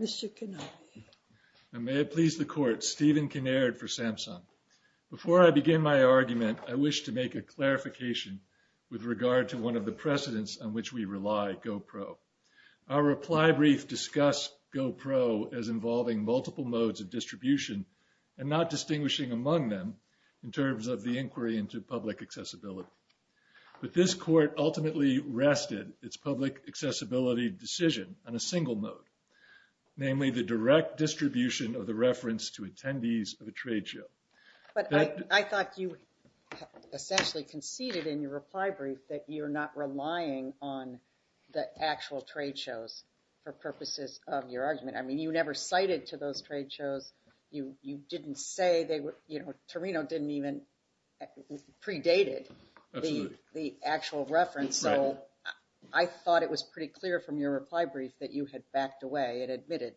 Mr. Kanavi. And may it please the court, Stephen Kinnaird for Samsung. Before I begin my argument, I wish to make a clarification with regard to one of the precedents on which we rely, GoPro. Our reply brief discussed GoPro as involving multiple modes of distribution and not distinguishing among them in terms of the inquiry into public accessibility. But this court ultimately rested its public accessibility decision on a single mode, namely the direct distribution of the reference to attendees of a trade show. But I thought you essentially conceded in your reply brief that you're not relying on the actual trade shows for purposes of your argument. I mean, you never cited to those trade shows. You didn't say they were, you know, Torino didn't even predated the actual reference. So I thought it was pretty clear from your reply brief that you had backed away and admitted.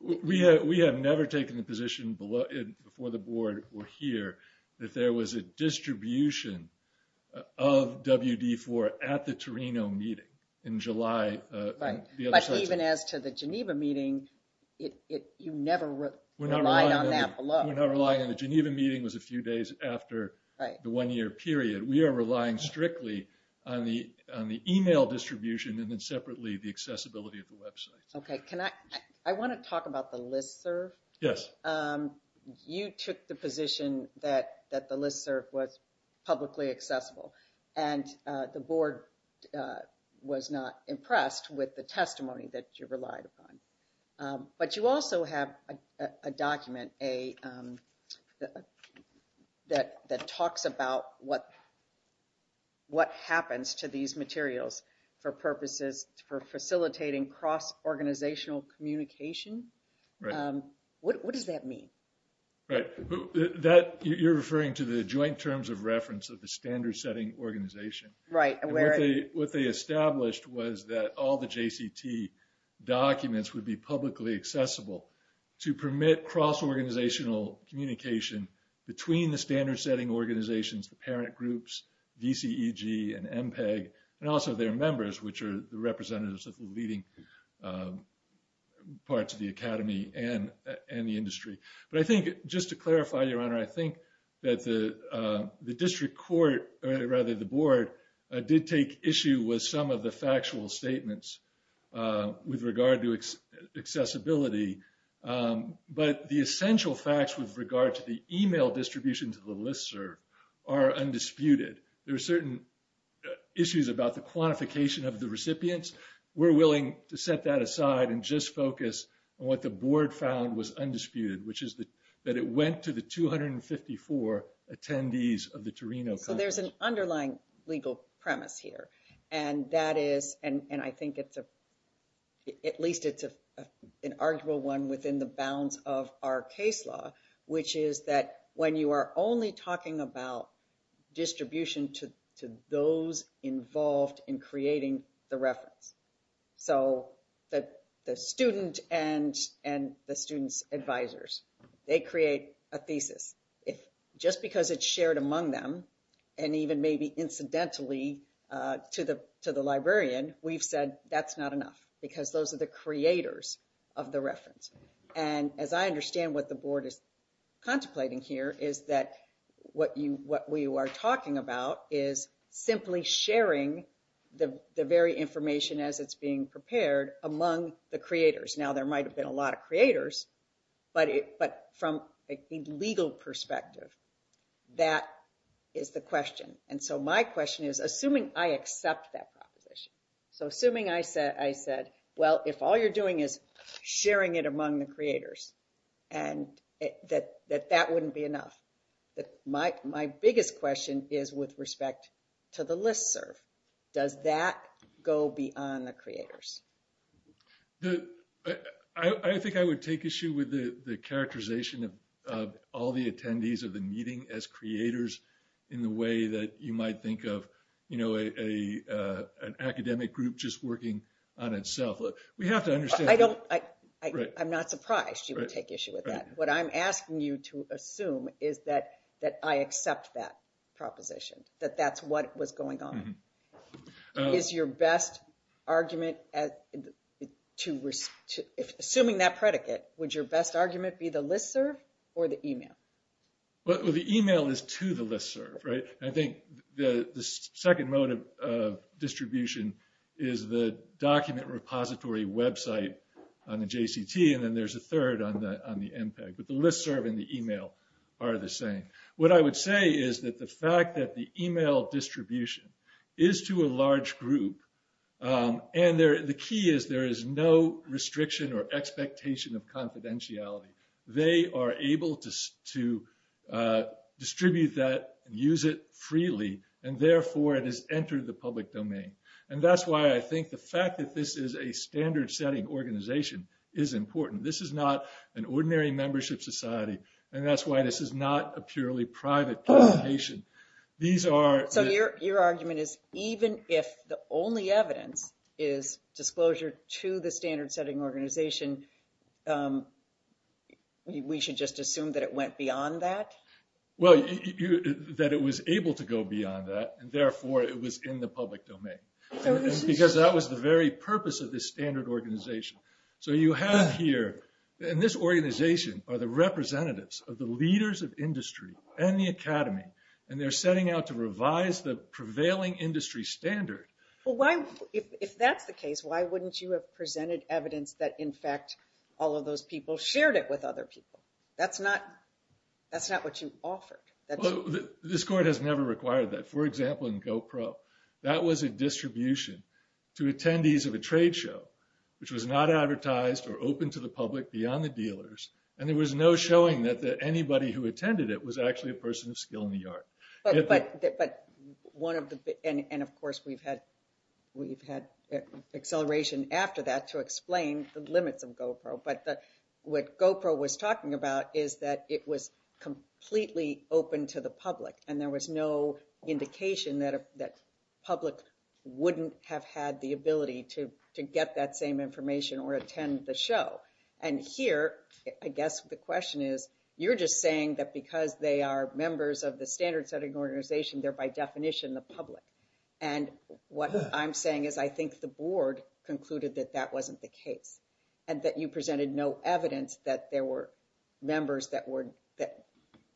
We have never taken the position before the board or here that there was a distribution of WD4 at the Torino meeting in July. But even as to the Geneva meeting, you never relied on that below. We're not relying on the Geneva meeting was a few days after the one-year period. We are relying strictly on the email distribution and then accessibility of the website. Okay, can I, I want to talk about the listserv. Yes. You took the position that the listserv was publicly accessible and the board was not impressed with the testimony that you relied upon. But you also have a document that talks about what happens to these materials for purposes for facilitating cross-organizational communication. What does that mean? Right. That you're referring to the joint terms of reference of the standard setting organization. Right. What they established was that all the JCT documents would be publicly accessible to permit cross-organizational communication between the standard setting organizations, the parent groups, VCEG and MPEG, and also their members, which are the representatives of the leading parts of the academy and the industry. But I think just to clarify, Your Honor, I think that the district court, or rather the board, did take issue with some of the factual statements with regard to accessibility. But the essential facts with regard to the email distribution to the listserv are undisputed. There are certain issues about the quantification of the recipients. We're willing to set that aside and just focus on what the board found was undisputed, which is that it went to the 254 attendees of the Torino. So there's an underlying legal premise here. And that is, and I think it's a, at least it's an arguable one within the bounds of our case law, which is that when you are only talking about distribution to those involved in creating the reference, so that the student and the student's advisors, they create a thesis. If just because it's shared among them, and even maybe incidentally, to the librarian, we've said that's not enough, because those are the creators of the reference. And as I understand what the board is contemplating here, is that what we are talking about is simply sharing the very information as it's being prepared among the creators. Now, there might have been a lot of creators, but from a legal perspective, that is the question is, assuming I accept that proposition. So assuming I said, well if all you're doing is sharing it among the creators, and that that wouldn't be enough, that my biggest question is with respect to the listserv. Does that go beyond the creators? I think I would take issue with the characterization of all the attendees of the meeting as creators in the way that you might think of, you know, an academic group just working on itself. We have to understand... I'm not surprised you would take issue with that. What I'm asking you to assume is that I accept that proposition, that that's what was going on. Is your best argument, assuming that predicate, would your best Well, the email is to the listserv, right? I think the second mode of distribution is the document repository website on the JCT, and then there's a third on the on the MPEG. But the listserv and the email are the same. What I would say is that the fact that the email distribution is to a large group, and the key is there is no restriction or expectation of to distribute that and use it freely, and therefore it has entered the public domain. And that's why I think the fact that this is a standard-setting organization is important. This is not an ordinary membership society, and that's why this is not a purely private publication. These are... So your argument is even if the only evidence is disclosure to the Well, that it was able to go beyond that, and therefore it was in the public domain. Because that was the very purpose of this standard organization. So you have here, and this organization are the representatives of the leaders of industry and the academy, and they're setting out to revise the prevailing industry standard. Well, if that's the case, why wouldn't you have presented evidence that, in fact, all of those people shared it with other people? That's not what you offered. This court has never required that. For example, in GoPro, that was a distribution to attendees of a trade show, which was not advertised or open to the public beyond the dealers, and there was no showing that anybody who attended it was actually a person of skill in the yard. But one of the... And, of course, we've had acceleration after that to explain the limits of GoPro, but what GoPro was talking about is that it was completely open to the public, and there was no indication that public wouldn't have had the ability to get that same information or attend the show. And here, I guess the question is, you're just saying that because they are members of the standard setting organization, they're by definition the public. And what I'm the board concluded that that wasn't the case, and that you presented no evidence that there were members that were...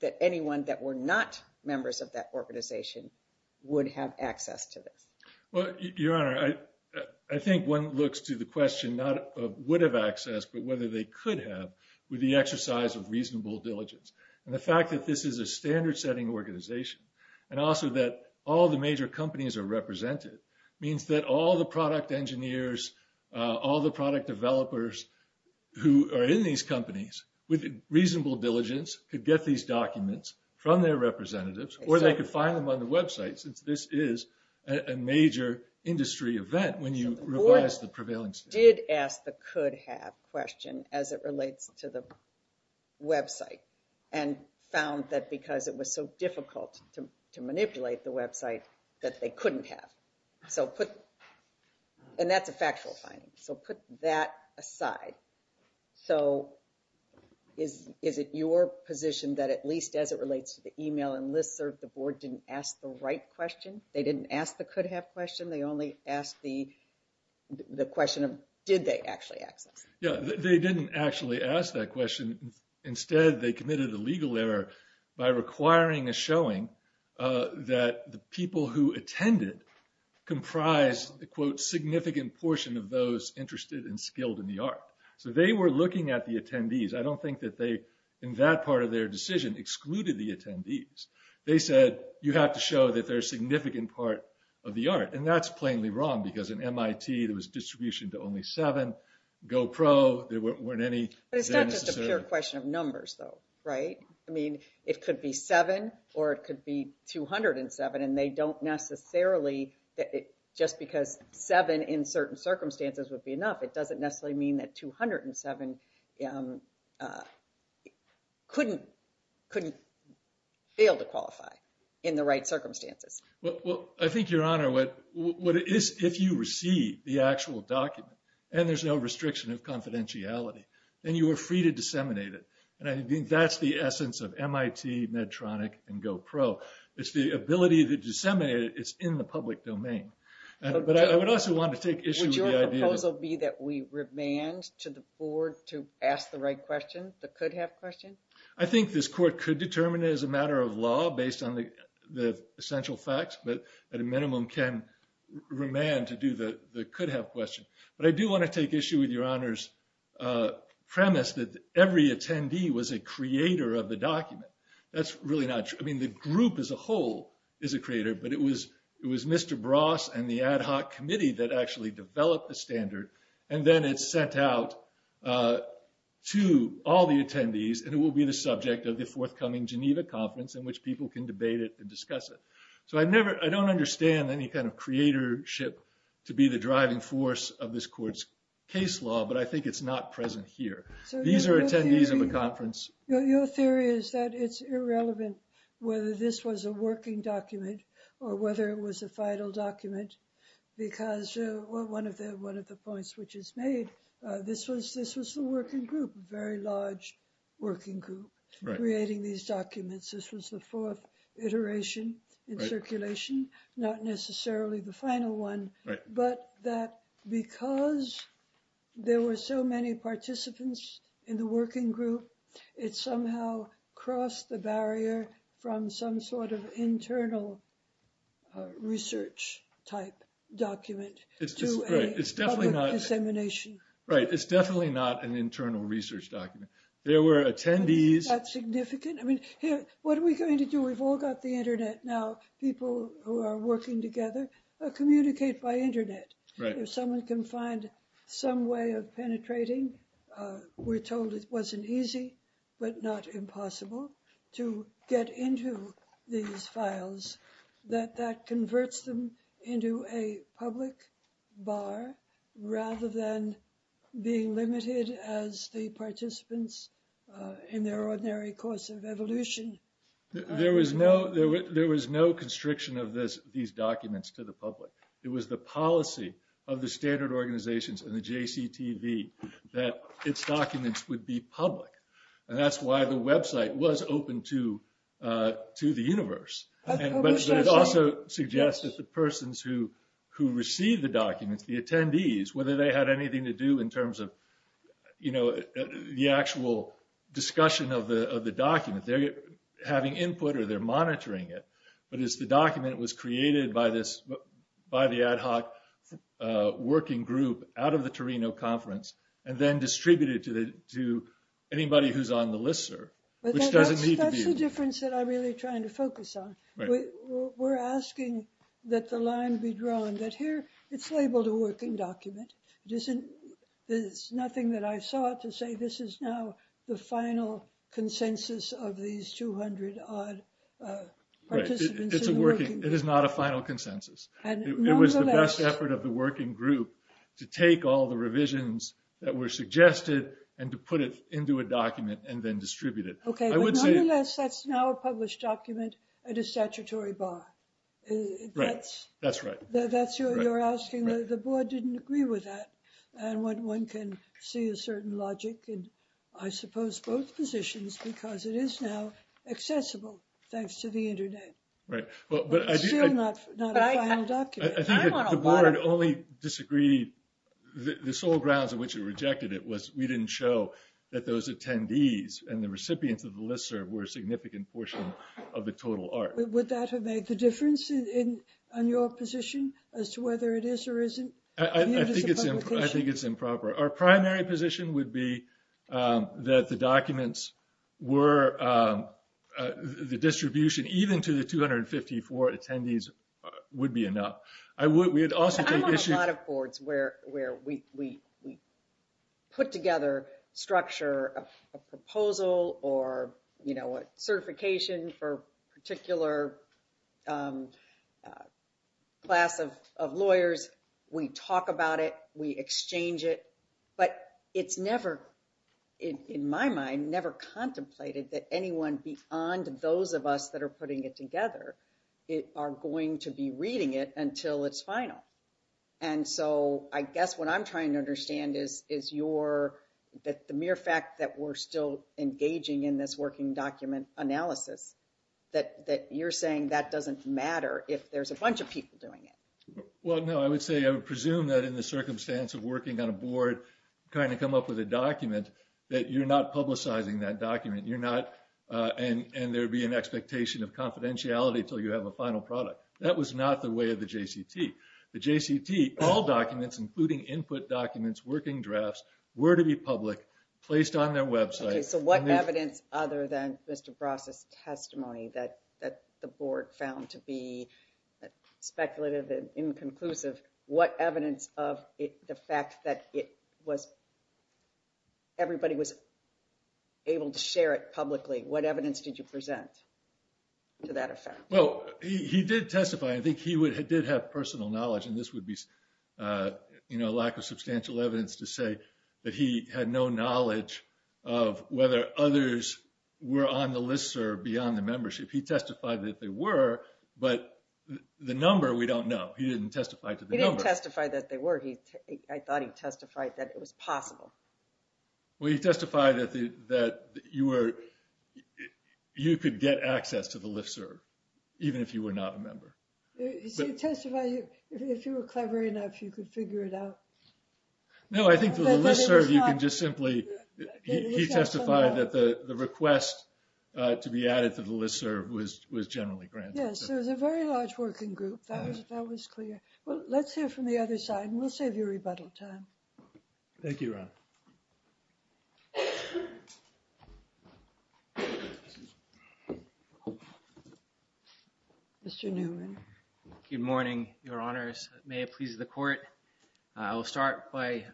That anyone that were not members of that organization would have access to this. Well, Your Honor, I think one looks to the question not of would have access, but whether they could have with the exercise of reasonable diligence. And the fact that this is a standard setting organization, and also that all the major companies are engineers, all the product developers who are in these companies with reasonable diligence could get these documents from their representatives, or they could find them on the website since this is a major industry event when you revise the prevailing standard. The board did ask the could have question as it relates to the website, and found that because it was so difficult to manipulate the and that's a factual finding. So put that aside. So is it your position that at least as it relates to the email and listserv, the board didn't ask the right question? They didn't ask the could have question, they only asked the question of did they actually access? Yeah, they didn't actually ask that question. Instead, they committed a legal error by requiring a showing that the significant portion of those interested and skilled in the art. So they were looking at the attendees. I don't think that they, in that part of their decision, excluded the attendees. They said, you have to show that they're significant part of the art. And that's plainly wrong, because in MIT, there was distribution to only seven. GoPro, there weren't any. But it's not just a pure question of numbers, though, right? I mean, it could be seven, or it could be 207. And they in certain circumstances would be enough. It doesn't necessarily mean that 207 couldn't fail to qualify in the right circumstances. Well, I think, Your Honor, what it is, if you receive the actual document, and there's no restriction of confidentiality, then you are free to disseminate it. And I think that's the essence of MIT, Medtronic, and GoPro. It's the ability to disseminate it, it's in the public domain. But I would also want to take issue with the idea that... Would your proposal be that we remand to the board to ask the right question, the could-have question? I think this court could determine it as a matter of law based on the essential facts, but at a minimum can remand to do the could-have question. But I do want to take issue with Your Honor's premise that every attendee was a creator of the document. That's really not true. I mean, the group as a whole is a creator, but it was Mr. Bross and the ad hoc committee that actually developed the standard. And then it's sent out to all the attendees, and it will be the subject of the forthcoming Geneva conference in which people can debate it and discuss it. So I don't understand any kind of creatorship to be the driving force of this court's case law, but I think it's not present here. These are attendees of the conference. Your theory is that it's irrelevant whether this was a working document or whether it was a final document, because one of the points which is made, this was the working group, a very large working group creating these documents. This was the fourth iteration in circulation, not necessarily the final one, but that because there were so many participants in the working group, it somehow crossed the barrier from some sort of internal research-type document to a public dissemination. Right. It's definitely not an internal research document. There were attendees... Is that significant? I mean, what are we going to do? We've all got the internet now. People who are working together communicate by internet. If someone can find some way of penetrating, we're told it wasn't easy but not impossible to get into these files, that that converts them into a public bar rather than being limited as the participants in their ordinary course of evolution. There was no constriction of these documents to the public. It was the policy of the Standard Organizations and the JCTV that its documents would be public. That's why the website was open to the universe. But it also suggests that the persons who received the documents, the attendees, whether they had anything to do in terms of the actual discussion of the document, they're having input or they're monitoring it, but as the document was created by the ad hoc working group out of the Torino Conference and then distributed to anybody who's on the LISR, which doesn't need to be... That's the difference that I'm really trying to focus on. We're asking that the line be drawn that here it's labeled a working document. There's nothing that I saw to say this is now the final consensus of these 200-odd participants. It's a working... It is not a final consensus. It was the best effort of the working group to take all the revisions that were suggested and to put it into a document and then distribute it. Okay, but nonetheless, that's now a published document at a statutory bar. Right. That's right. That's what you're asking. The board didn't agree with that. And one can see a certain logic, and I suppose both positions, because it is now accessible thanks to the internet. Right. But it's still not a final document. I think the board only disagreed... The sole grounds of which it rejected it was we didn't show that those attendees and the recipients of the LISR were a significant portion of the total art. Would that have made the difference in your position as to whether it is or isn't? I think it's improper. Our primary position would be that the documents were... The distribution even to the 254 attendees would be enough. We would also take issue... I know a lot of boards where we put together structure of a proposal or certification for a particular class of lawyers. We talk about it, we exchange it, but it's never, in my mind, never contemplated that anyone beyond those of us that are putting it together are going to be reading it until it's final. And so I guess what I'm trying to understand is the mere fact that we're still engaging in this working document analysis, that you're saying that doesn't matter if there's a bunch of people doing it. Well, no, I would say... I would presume that in the circumstance of working on a board, trying to come up with a document, that you're not publicizing that document. You're not... And there'd be an expectation of confidentiality until you have a final product. That was not the way of the JCT. The JCT, all documents, including input documents, working drafts, were to be public, placed on their website... So what evidence other than Mr. Bross' testimony that the board found to be speculative and inconclusive, what evidence of the fact that it was... Everybody was able to share it publicly. What evidence did you present to that effect? Well, he did testify. I think he did have personal knowledge, and this would be lack of substantial evidence to say that he had no knowledge of whether others were on the LISTSERV beyond the membership. He testified that they were, but the number, we don't know. He didn't testify to the number. He didn't testify that they were. I thought he testified that it was possible. Well, he testified that you could get access to the LISTSERV, even if you were not a member. He testified if you were clever enough, you could figure it out. No, I think for the LISTSERV, you can just simply... He testified that the request to be added to the LISTSERV was generally granted. Yes, it was a very large working group. That was clear. Well, let's hear from the other side, and we'll save you rebuttal time. Thank you, Ron. Mr. Newman. Good morning, Your Honors. May it please the Court, I will start by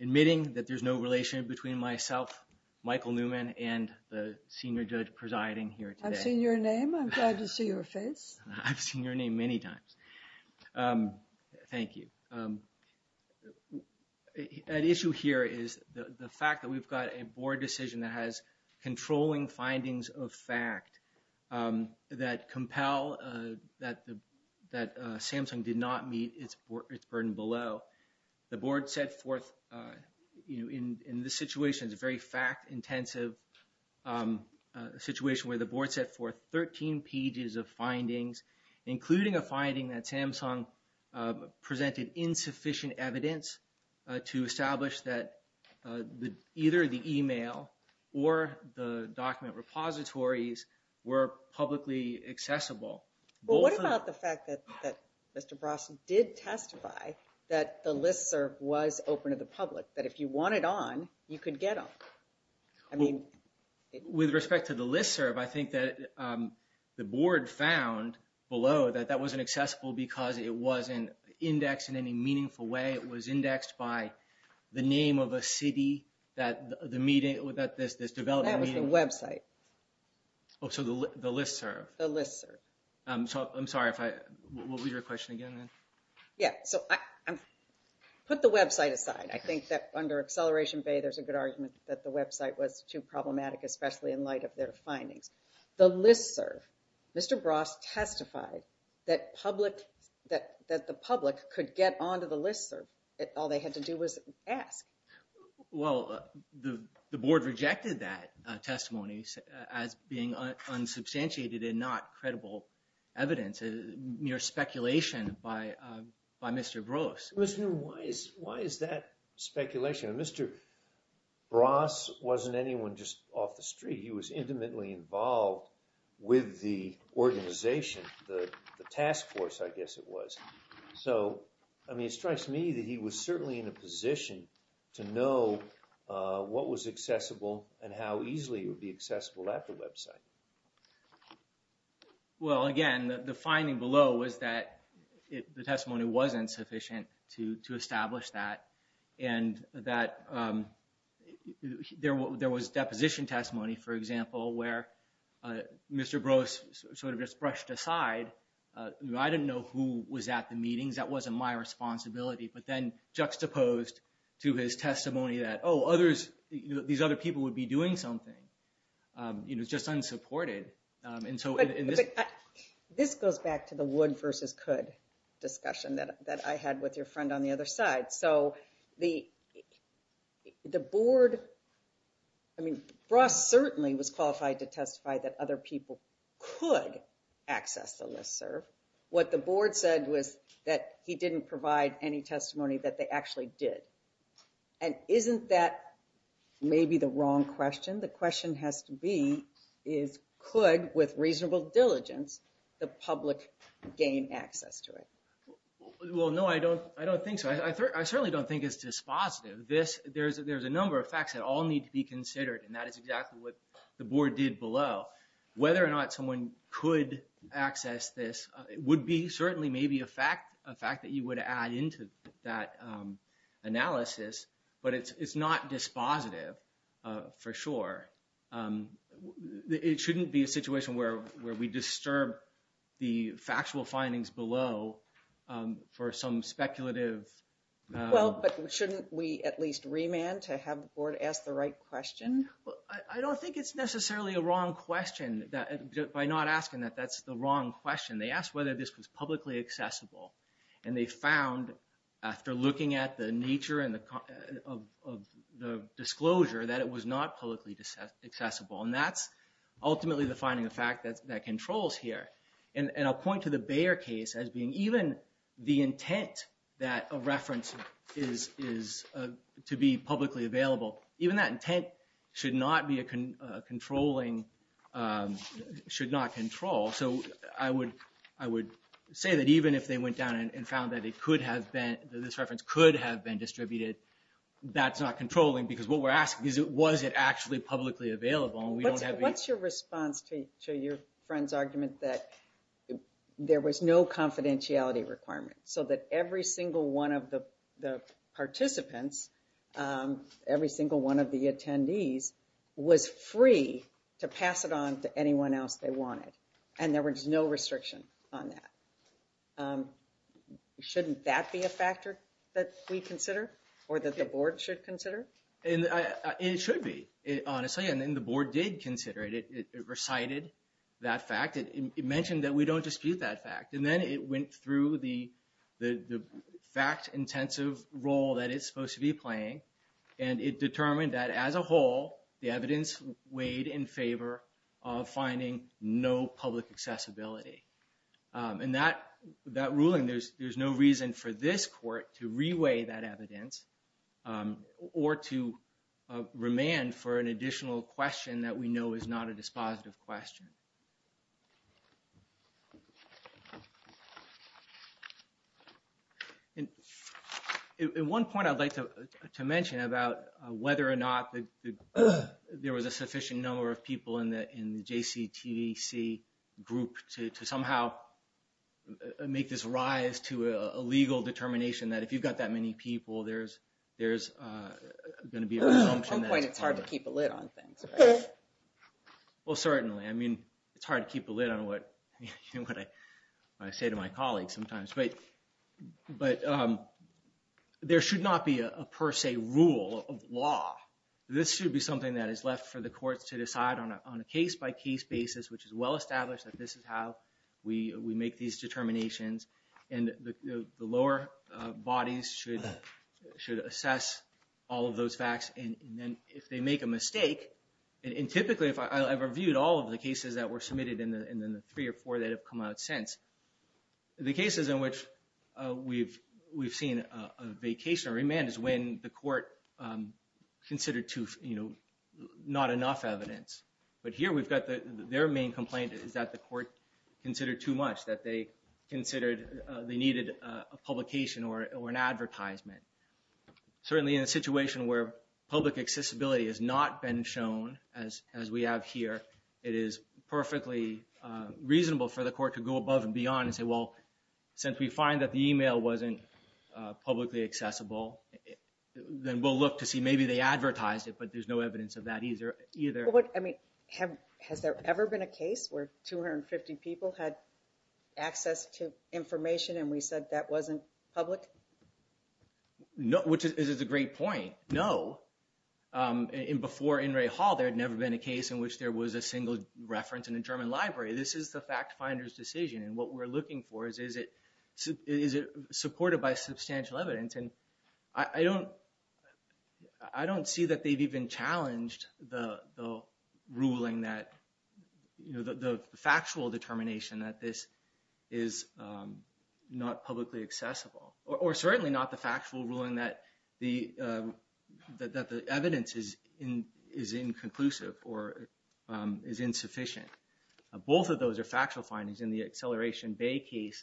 admitting that there's no relation between myself, Michael Newman, and the senior judge presiding here today. I've seen your name. I'm glad to see your face. I've seen your name many times. Thank you. The issue here is the fact that we've got a board decision that has controlling findings of fact that compel that Samsung did not meet its burden below. The board set forth, in this situation, it's a very fact-intensive situation where the board set forth 13 pages of findings, including a finding that Samsung presented insufficient evidence to establish that either the email or the document repositories were publicly accessible. Well, what about the fact that Mr. Brosnan did testify that the LISTSERV was open to the public, that if you wanted on, you could get on? I mean... With respect to the LISTSERV, I think that the board found below that that wasn't accessible because it wasn't indexed in any meaningful way. It was indexed by the name of a city that this development... That was the website. Oh, so the LISTSERV. The LISTSERV. I'm sorry if I... What was your question again? Yeah, so put the website aside. I think that under Acceleration Bay, there's a good argument that the website was too problematic, especially in light of their findings. The LISTSERV, Mr. Bros testified that the public could get onto the LISTSERV. All they had to do was ask. Well, the board rejected that testimony as being unsubstantiated and not credible evidence, mere speculation by Mr. Bros. Why is that speculation? Mr. Bros wasn't anyone just off the street. He was intimately involved with the organization, the task force, I guess it was. So, I mean, it strikes me that he was certainly in a position to know what was accessible and how easily it would be accessible at the website. Well, again, the finding below was that the testimony wasn't sufficient to establish that. And that there was deposition testimony, for example, where Mr. Bros sort of just brushed aside. I didn't know who was at the meetings. That wasn't my responsibility, but then juxtaposed to his testimony that, oh, these other people would be doing something. You know, it's just unsupported. This goes back to the wood versus could discussion that I had with your friend on the other side. So, the board, I mean, Bros certainly was qualified to testify that other people could access the listserv. What the board said was that he didn't provide any testimony that they actually did. And isn't that maybe the wrong question? The question has to be, is could, with reasonable diligence, the public gain access to it? Well, no, I don't think so. I certainly don't think it's dispositive. This, there's a number of facts that all need to be considered. And that is exactly what the board did below. Whether or not someone could access this would be certainly maybe a fact, a fact that you would add into that analysis. But it's not dispositive for sure. It shouldn't be a situation where we disturb the factual findings below for some speculative. Well, but shouldn't we at least remand to have the board ask the right question? I don't think it's necessarily a wrong question. By not asking that, that's the wrong question. They asked whether this was publicly accessible. And they found, after looking at the nature of the disclosure, that it was not publicly accessible. And that's ultimately defining the fact that controls here. And I'll point to the Bayer case as being, even the intent that a reference is to be publicly available, even that intent should not be a controlling, should not control. So I would say that even if they went down and found that it could have been, this reference could have been distributed, that's not controlling. Because what we're asking is, was it actually publicly available? What's your response to your friend's argument that there was no confidentiality requirement? So that every single one of the participants, every single one of the attendees, was free to pass it on to anyone else they wanted. And there was no restriction on that. Shouldn't that be a factor that we consider? Or that the board should consider? It should be, honestly. And the board did consider it. It recited that fact. It mentioned that we don't dispute that fact. And then it went through the fact-intensive role that it's supposed to be playing. And it determined that, as a whole, the evidence weighed in favor of finding no public accessibility. And that ruling, there's no reason for this court to reweigh that evidence or to remand for an additional question that we know is not a dispositive question. And at one point, I'd like to mention about whether or not there was a sufficient number of people in the JCTC group to somehow make this rise to a legal determination that if you've got that many people, there's going to be an assumption... At some point, it's hard to keep a lid on things. Well, certainly. I mean, it's hard to keep a lid on what I say to my colleagues sometimes. But there should not be a per se rule of law. This should be something that is left for the courts to decide on a case-by-case basis, which is well established that this is how we make these determinations. And the lower bodies should assess all of those facts. And then, if they make a mistake... And typically, I've reviewed all of the cases that were submitted in the three or four that have come out since. The cases in which we've seen a vacation or remand is when the court considered not enough evidence. But here, we've got their main complaint is that the court considered too much. That they considered they needed a publication or an advertisement. Certainly, in a situation where public accessibility has not been shown as we have here, it is perfectly reasonable for the court to go above and beyond and say, well, since we find that the email wasn't publicly accessible, then we'll look to see maybe they advertised it, but there's no evidence of that either. I mean, has there ever been a case where 250 people had access to information and we said that wasn't public? No, which is a great point. No, and before In re Hall, there had never been a case in which there was a single reference in a German library. This is the fact finder's decision. And what we're looking for is, is it supported by substantial evidence? I don't see that they've even challenged the ruling that the factual determination that this is not publicly accessible. Or certainly not the factual ruling that the evidence is inconclusive or is insufficient. Both of those are factual findings in the Acceleration Bay case.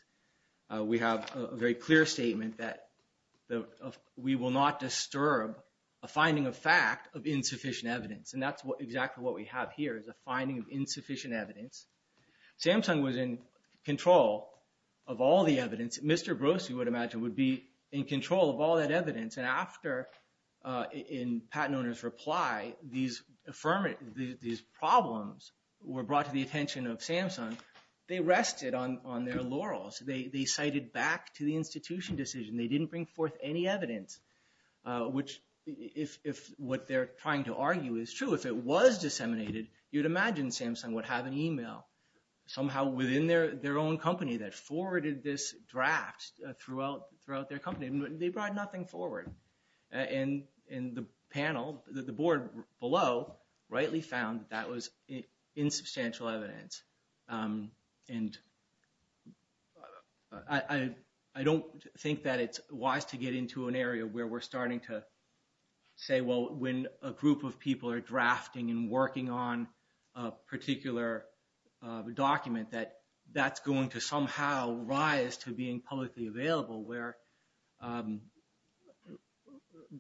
We have a very clear statement that we will not disturb a finding of fact of insufficient evidence. And that's exactly what we have here, is a finding of insufficient evidence. Samsung was in control of all the evidence. Mr. Brose, you would imagine, would be in control of all that evidence. And after, in Patten owner's reply, these problems were brought to the attention of Samsung. They rested on their laurels. They cited back to the institution decision. They didn't bring forth any evidence, which if what they're trying to argue is true, if it was disseminated, you'd imagine Samsung would have an email somehow within their own company that forwarded this draft throughout their company. They brought nothing forward. And the panel, the board below, rightly found that was insubstantial evidence. And I don't think that it's wise to get into an area where we're starting to say, well, when a group of people are drafting and working on a particular document, that that's going to somehow rise to being publicly available where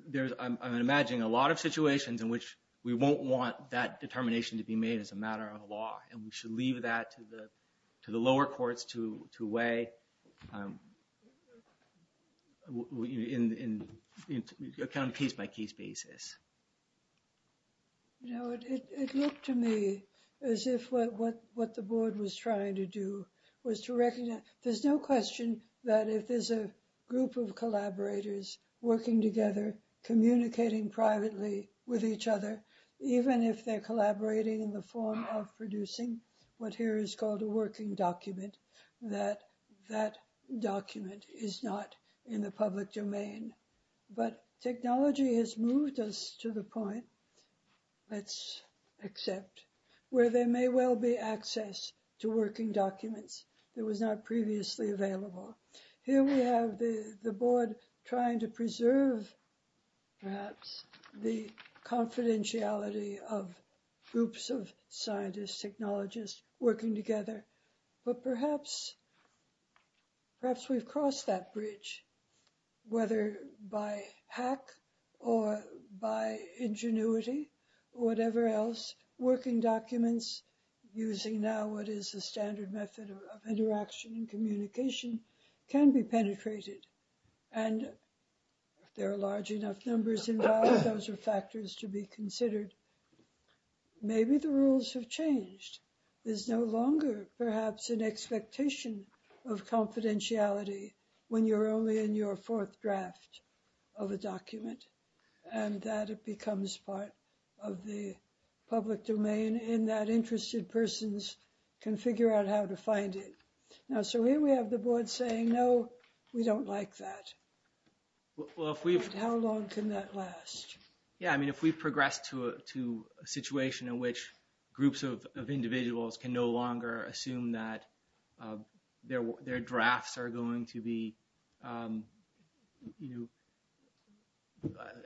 there's, I'm imagining a lot of situations in which we won't want that determination to be made as a matter of law. And we should leave that to the lower courts to weigh on a case-by-case basis. No, it looked to me as if what the board was trying to do was to recognize, there's no question that if there's a group of collaborators working together, communicating privately with each other, even if they're collaborating in the form of producing what here is called a working document, that that document is not in the public domain. But technology has moved us to the point, let's accept, where there may well be access to working documents that was not previously available. Here we have the board trying to preserve, perhaps, the confidentiality of groups of scientists, technologists working together. But perhaps, perhaps we've crossed that bridge, whether by hack or by ingenuity, whatever else, working documents using now what is the standard method of interaction and communication can be penetrated. And if there are large enough numbers involved, those are factors to be considered. Maybe the rules have changed. There's no longer, perhaps, an expectation of confidentiality when you're only in your fourth draft of a document, and that it becomes part of the public domain, and that interested persons can figure out how to find it. Now, so here we have the board saying, no, we don't like that. How long can that last? Yeah, I mean, if we progress to a situation in which groups of individuals can no longer assume that their drafts are going to be, you know,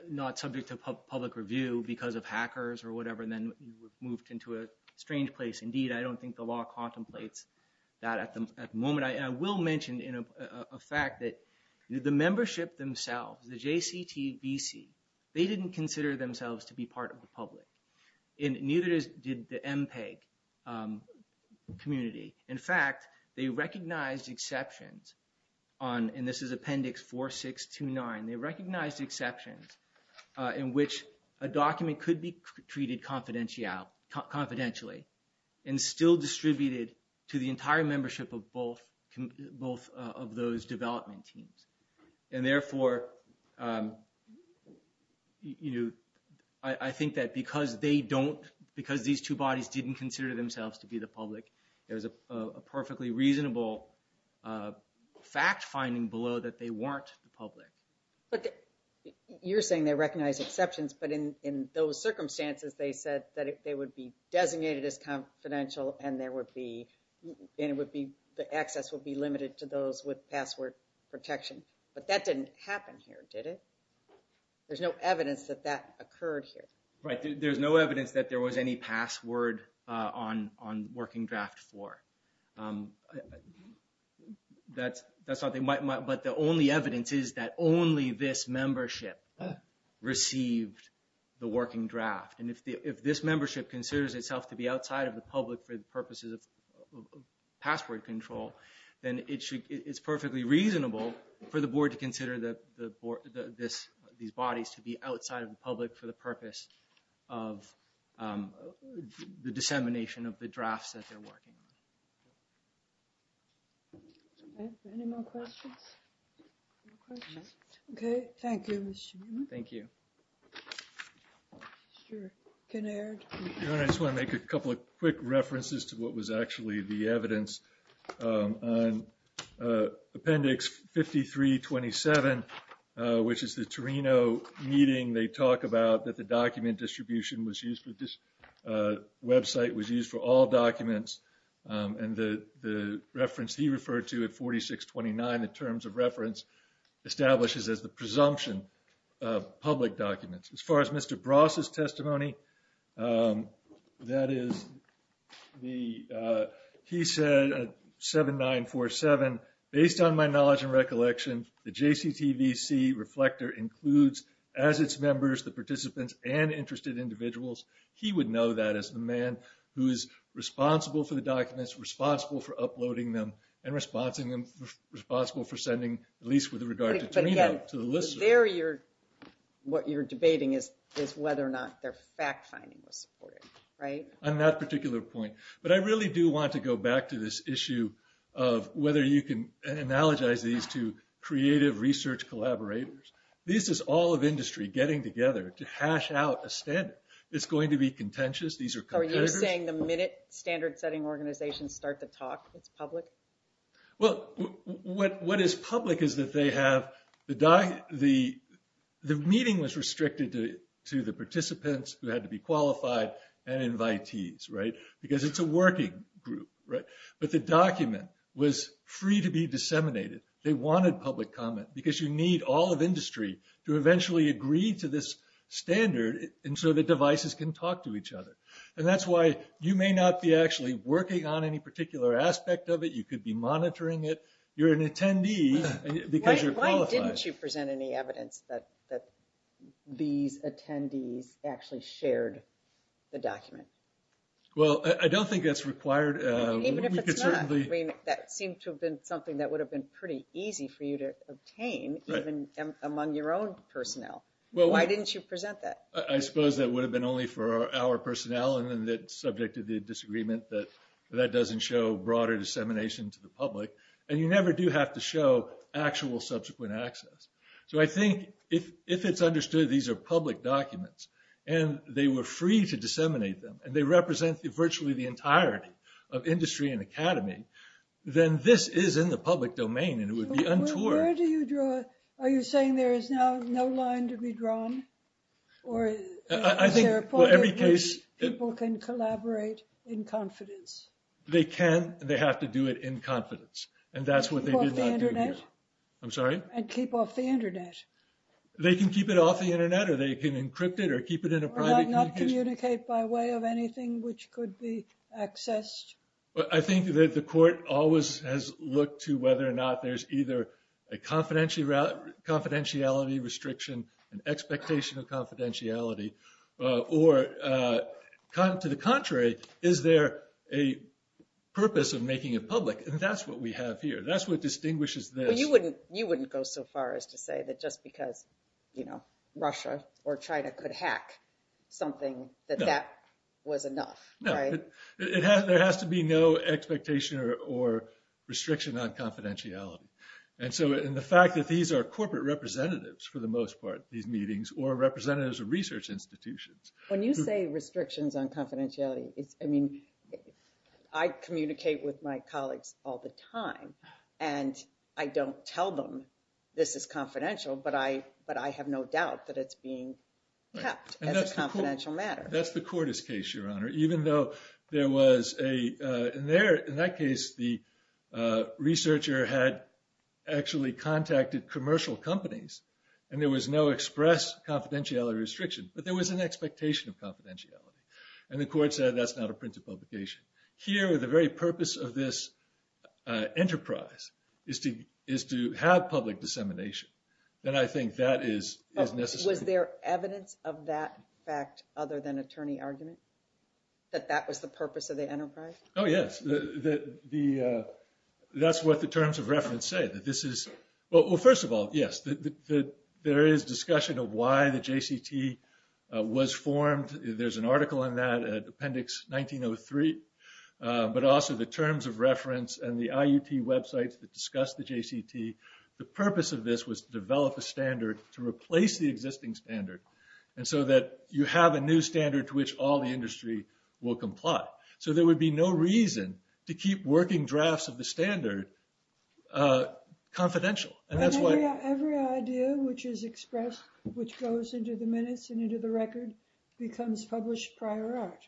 not subject to public review because of hackers or whatever, then we've moved into a strange place. Indeed, I don't think the law contemplates that at the moment. I will mention a fact that the membership themselves, the JCTVC, they didn't consider themselves to be part of the public. Neither did the MPEG community. In fact, they recognized exceptions on, and this is Appendix 4629, they recognized exceptions in which a document could be treated confidentially. And still distributed to the entire membership of both of those development teams. And therefore, you know, I think that because they don't, because these two bodies didn't consider themselves to be the public, there's a perfectly reasonable fact finding below that they weren't the public. But you're saying they recognize exceptions, but in those circumstances, they said that they would be designated as confidential and there would be, and it would be, the access would be limited to those with password protection. But that didn't happen here, did it? There's no evidence that that occurred here. Right, there's no evidence that there was any password on working draft four. That's something, but the only evidence is that only this membership received the working draft. If this membership considers itself to be outside of the public for the purposes of password control, then it's perfectly reasonable for the board to consider these bodies to be outside of the public for the purpose of the dissemination of the drafts that they're working on. Any more questions? Okay, thank you, Mr. Newman. Thank you. Can I just want to make a couple of quick references to what was actually the evidence on appendix 5327, which is the Torino meeting. They talk about that the document distribution was used for this website, was used for all documents. And the reference he referred to at 4629 in terms of reference establishes as the presumption of public documents. As far as Mr. Bross's testimony, that is the, he said 7947, based on my knowledge and recollection, the JCTVC reflector includes as its members, the participants, and interested individuals. He would know that as the man who is responsible for the documents, responsible for uploading them, and responsible for sending, at least with regard to Torino, to the listeners. You're, what you're debating is whether or not their fact finding was supported, right? On that particular point, but I really do want to go back to this issue of whether you can analogize these to creative research collaborators. This is all of industry getting together to hash out a standard. It's going to be contentious. These are competitors. Are you saying the minute standard setting organizations start to talk, it's public? Well, what is public is that they have the, the meeting was restricted to the participants who had to be qualified and invitees, right? Because it's a working group, right? But the document was free to be disseminated. They wanted public comment because you need all of industry to eventually agree to this standard. And so the devices can talk to each other. And that's why you may not be actually working on any particular aspect of it. You could be monitoring it. You're an attendee because you're qualified. Why didn't you present any evidence that these attendees actually shared the document? Well, I don't think that's required. Even if it's not, I mean, that seemed to have been something that would have been pretty easy for you to obtain even among your own personnel. Well, why didn't you present that? I suppose that would have been only for our personnel. And then the subject of the disagreement that that doesn't show broader dissemination to the public. And you never do have to show actual subsequent access. So I think if, if it's understood, these are public documents and they were free to disseminate them and they represent virtually the entirety of industry and academy, then this is in the public domain and it would be untoward. Where do you draw? Are you saying there is now no line to be drawn? Or is there a point at which people can collaborate in confidence? They can. They have to do it in confidence. And that's what they did not do here. I'm sorry? And keep off the internet. They can keep it off the internet or they can encrypt it or keep it in a private communication. Or not communicate by way of anything which could be accessed? I think that the court always has looked to whether or not there's either a confidentiality restriction, an expectation of confidentiality, or to the contrary, is there a purpose of making it public? And that's what we have here. That's what distinguishes this. Well, you wouldn't, you wouldn't go so far as to say that just because, you know, Russia or China could hack something that that was enough. No, it has, there has to be no expectation or restriction on confidentiality. And so, and the fact that these are corporate representatives, for the most part, these meetings or representatives of research institutions. When you say restrictions on confidentiality, it's, I mean, I communicate with my colleagues all the time and I don't tell them this is confidential, but I, but I have no doubt that it's being kept as a confidential matter. That's the Cordes case, Your Honor. Even though there was a, in there, in that case, the researcher had actually contacted commercial companies and there was no express confidentiality restriction, but there was an expectation of confidentiality. And the court said that's not a printed publication. Here, the very purpose of this enterprise is to, is to have public dissemination. And I think that is necessary. Was there evidence of that fact other than attorney argument? That that was the purpose of the enterprise? Oh, yes, the, that's what the terms of reference say, that this is, well, first of all, yes, that there is discussion of why the JCT was formed. There's an article in that, appendix 1903, but also the terms of reference and the IUT websites that discuss the JCT. The purpose of this was to develop a standard to replace the existing standard. And so that you have a new standard to which all the industry will comply. So there would be no reason to keep working drafts of the standard confidential. And that's why every idea which is expressed, which goes into the minutes and into the record becomes published prior art.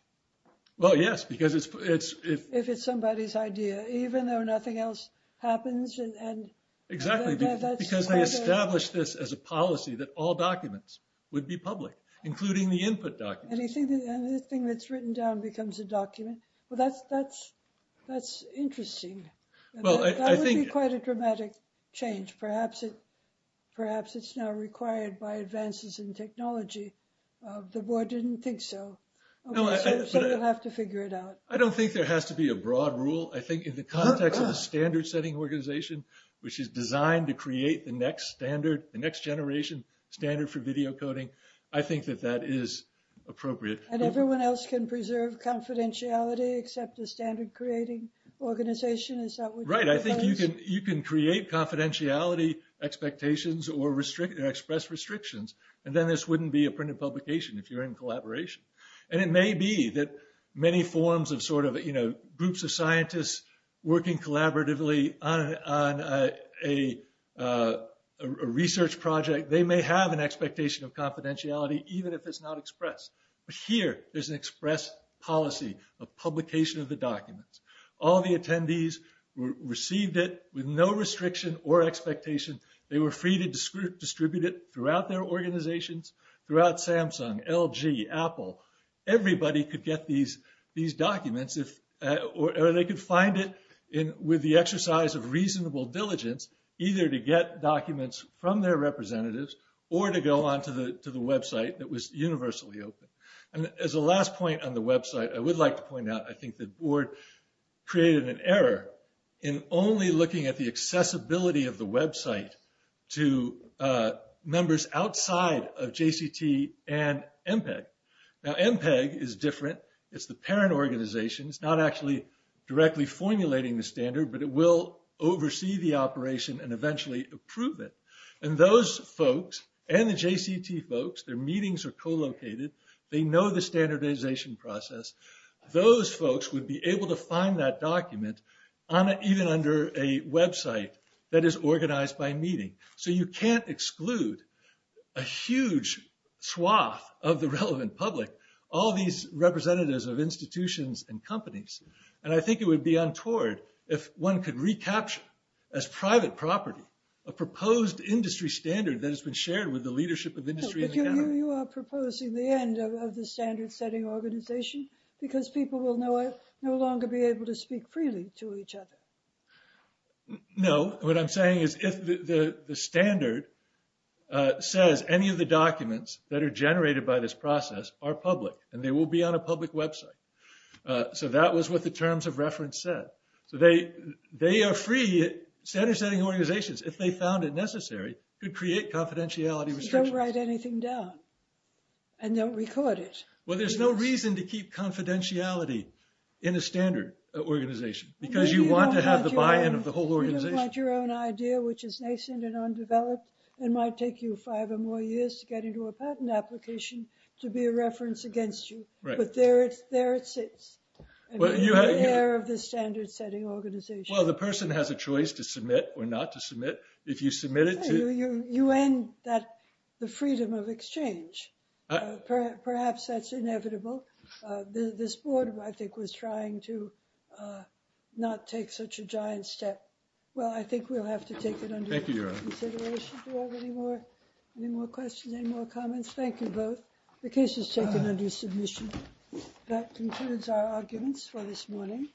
Well, yes, because it's, if it's somebody's idea, even though nothing else happens and Exactly, because they established this as a policy that all documents would be public, including the input document. Anything that's written down becomes a document. Well, that's, that's, that's interesting. Well, I think quite a dramatic change. Perhaps it, perhaps it's now required by advances in technology. The board didn't think so. So we'll have to figure it out. I don't think there has to be a broad rule. I think in the context of the standard setting organization, which is designed to create the next standard, the next generation standard for video coding. I think that that is appropriate. And everyone else can preserve confidentiality, except the standard creating organization. Is that right? I think you can, you can create confidentiality expectations or restrict and express restrictions. And then this wouldn't be a printed publication if you're in collaboration. And it may be that many forms of sort of, you know, groups of scientists working collaboratively on a research project, they may have an expectation of confidentiality, even if it's not expressed. But here, there's an express policy of publication of the documents. All the attendees received it with no restriction or expectation. They were free to distribute it throughout their organizations, throughout Samsung, LG, Apple. Everybody could get these documents, or they could find it with the exercise of reasonable diligence, either to get documents from their representatives, or to go on to the website that was universally open. And as a last point on the website, I would like to point out, I think the board created an error in only looking at the accessibility of the website to members outside of JCT and MPEG. Now, MPEG is different. It's the parent organization. It's not actually directly formulating the standard, but it will oversee the operation and eventually approve it. And those folks and the JCT folks, their meetings are co-located. They know the standardization process. Those folks would be able to find that document on, even under a website that is organized by meeting. So you can't exclude a huge swath of the relevant public, all these representatives of institutions and companies. And I think it would be untoward if one could recapture as private property a proposed industry standard that has been shared with the leadership of industry. But you are proposing the end of the standard setting organization because people will no longer be able to speak freely to each other. No. What I'm saying is if the standard says any of the documents that are generated by this process are public, and they will be on a public website. So that was what the terms of reference said. So they are free. Standard setting organizations, if they found it necessary, could create confidentiality restrictions. Don't write anything down. And don't record it. Well, there's no reason to keep confidentiality in a standard organization because you want to have the buy-in of the whole organization. You don't want your own idea, which is nascent and undeveloped, and might take you five or more years to get into a patent application to be a reference against you. But there it sits, in the air of the standard setting organization. Well, the person has a choice to submit or not to submit. If you submit it to... You end the freedom of exchange. Perhaps that's inevitable. This board, I think, was trying to not take such a giant step. Well, I think we'll have to take it under consideration. Do you have any more questions, any more comments? Thank you both. The case is taken under submission. That concludes our arguments for this morning.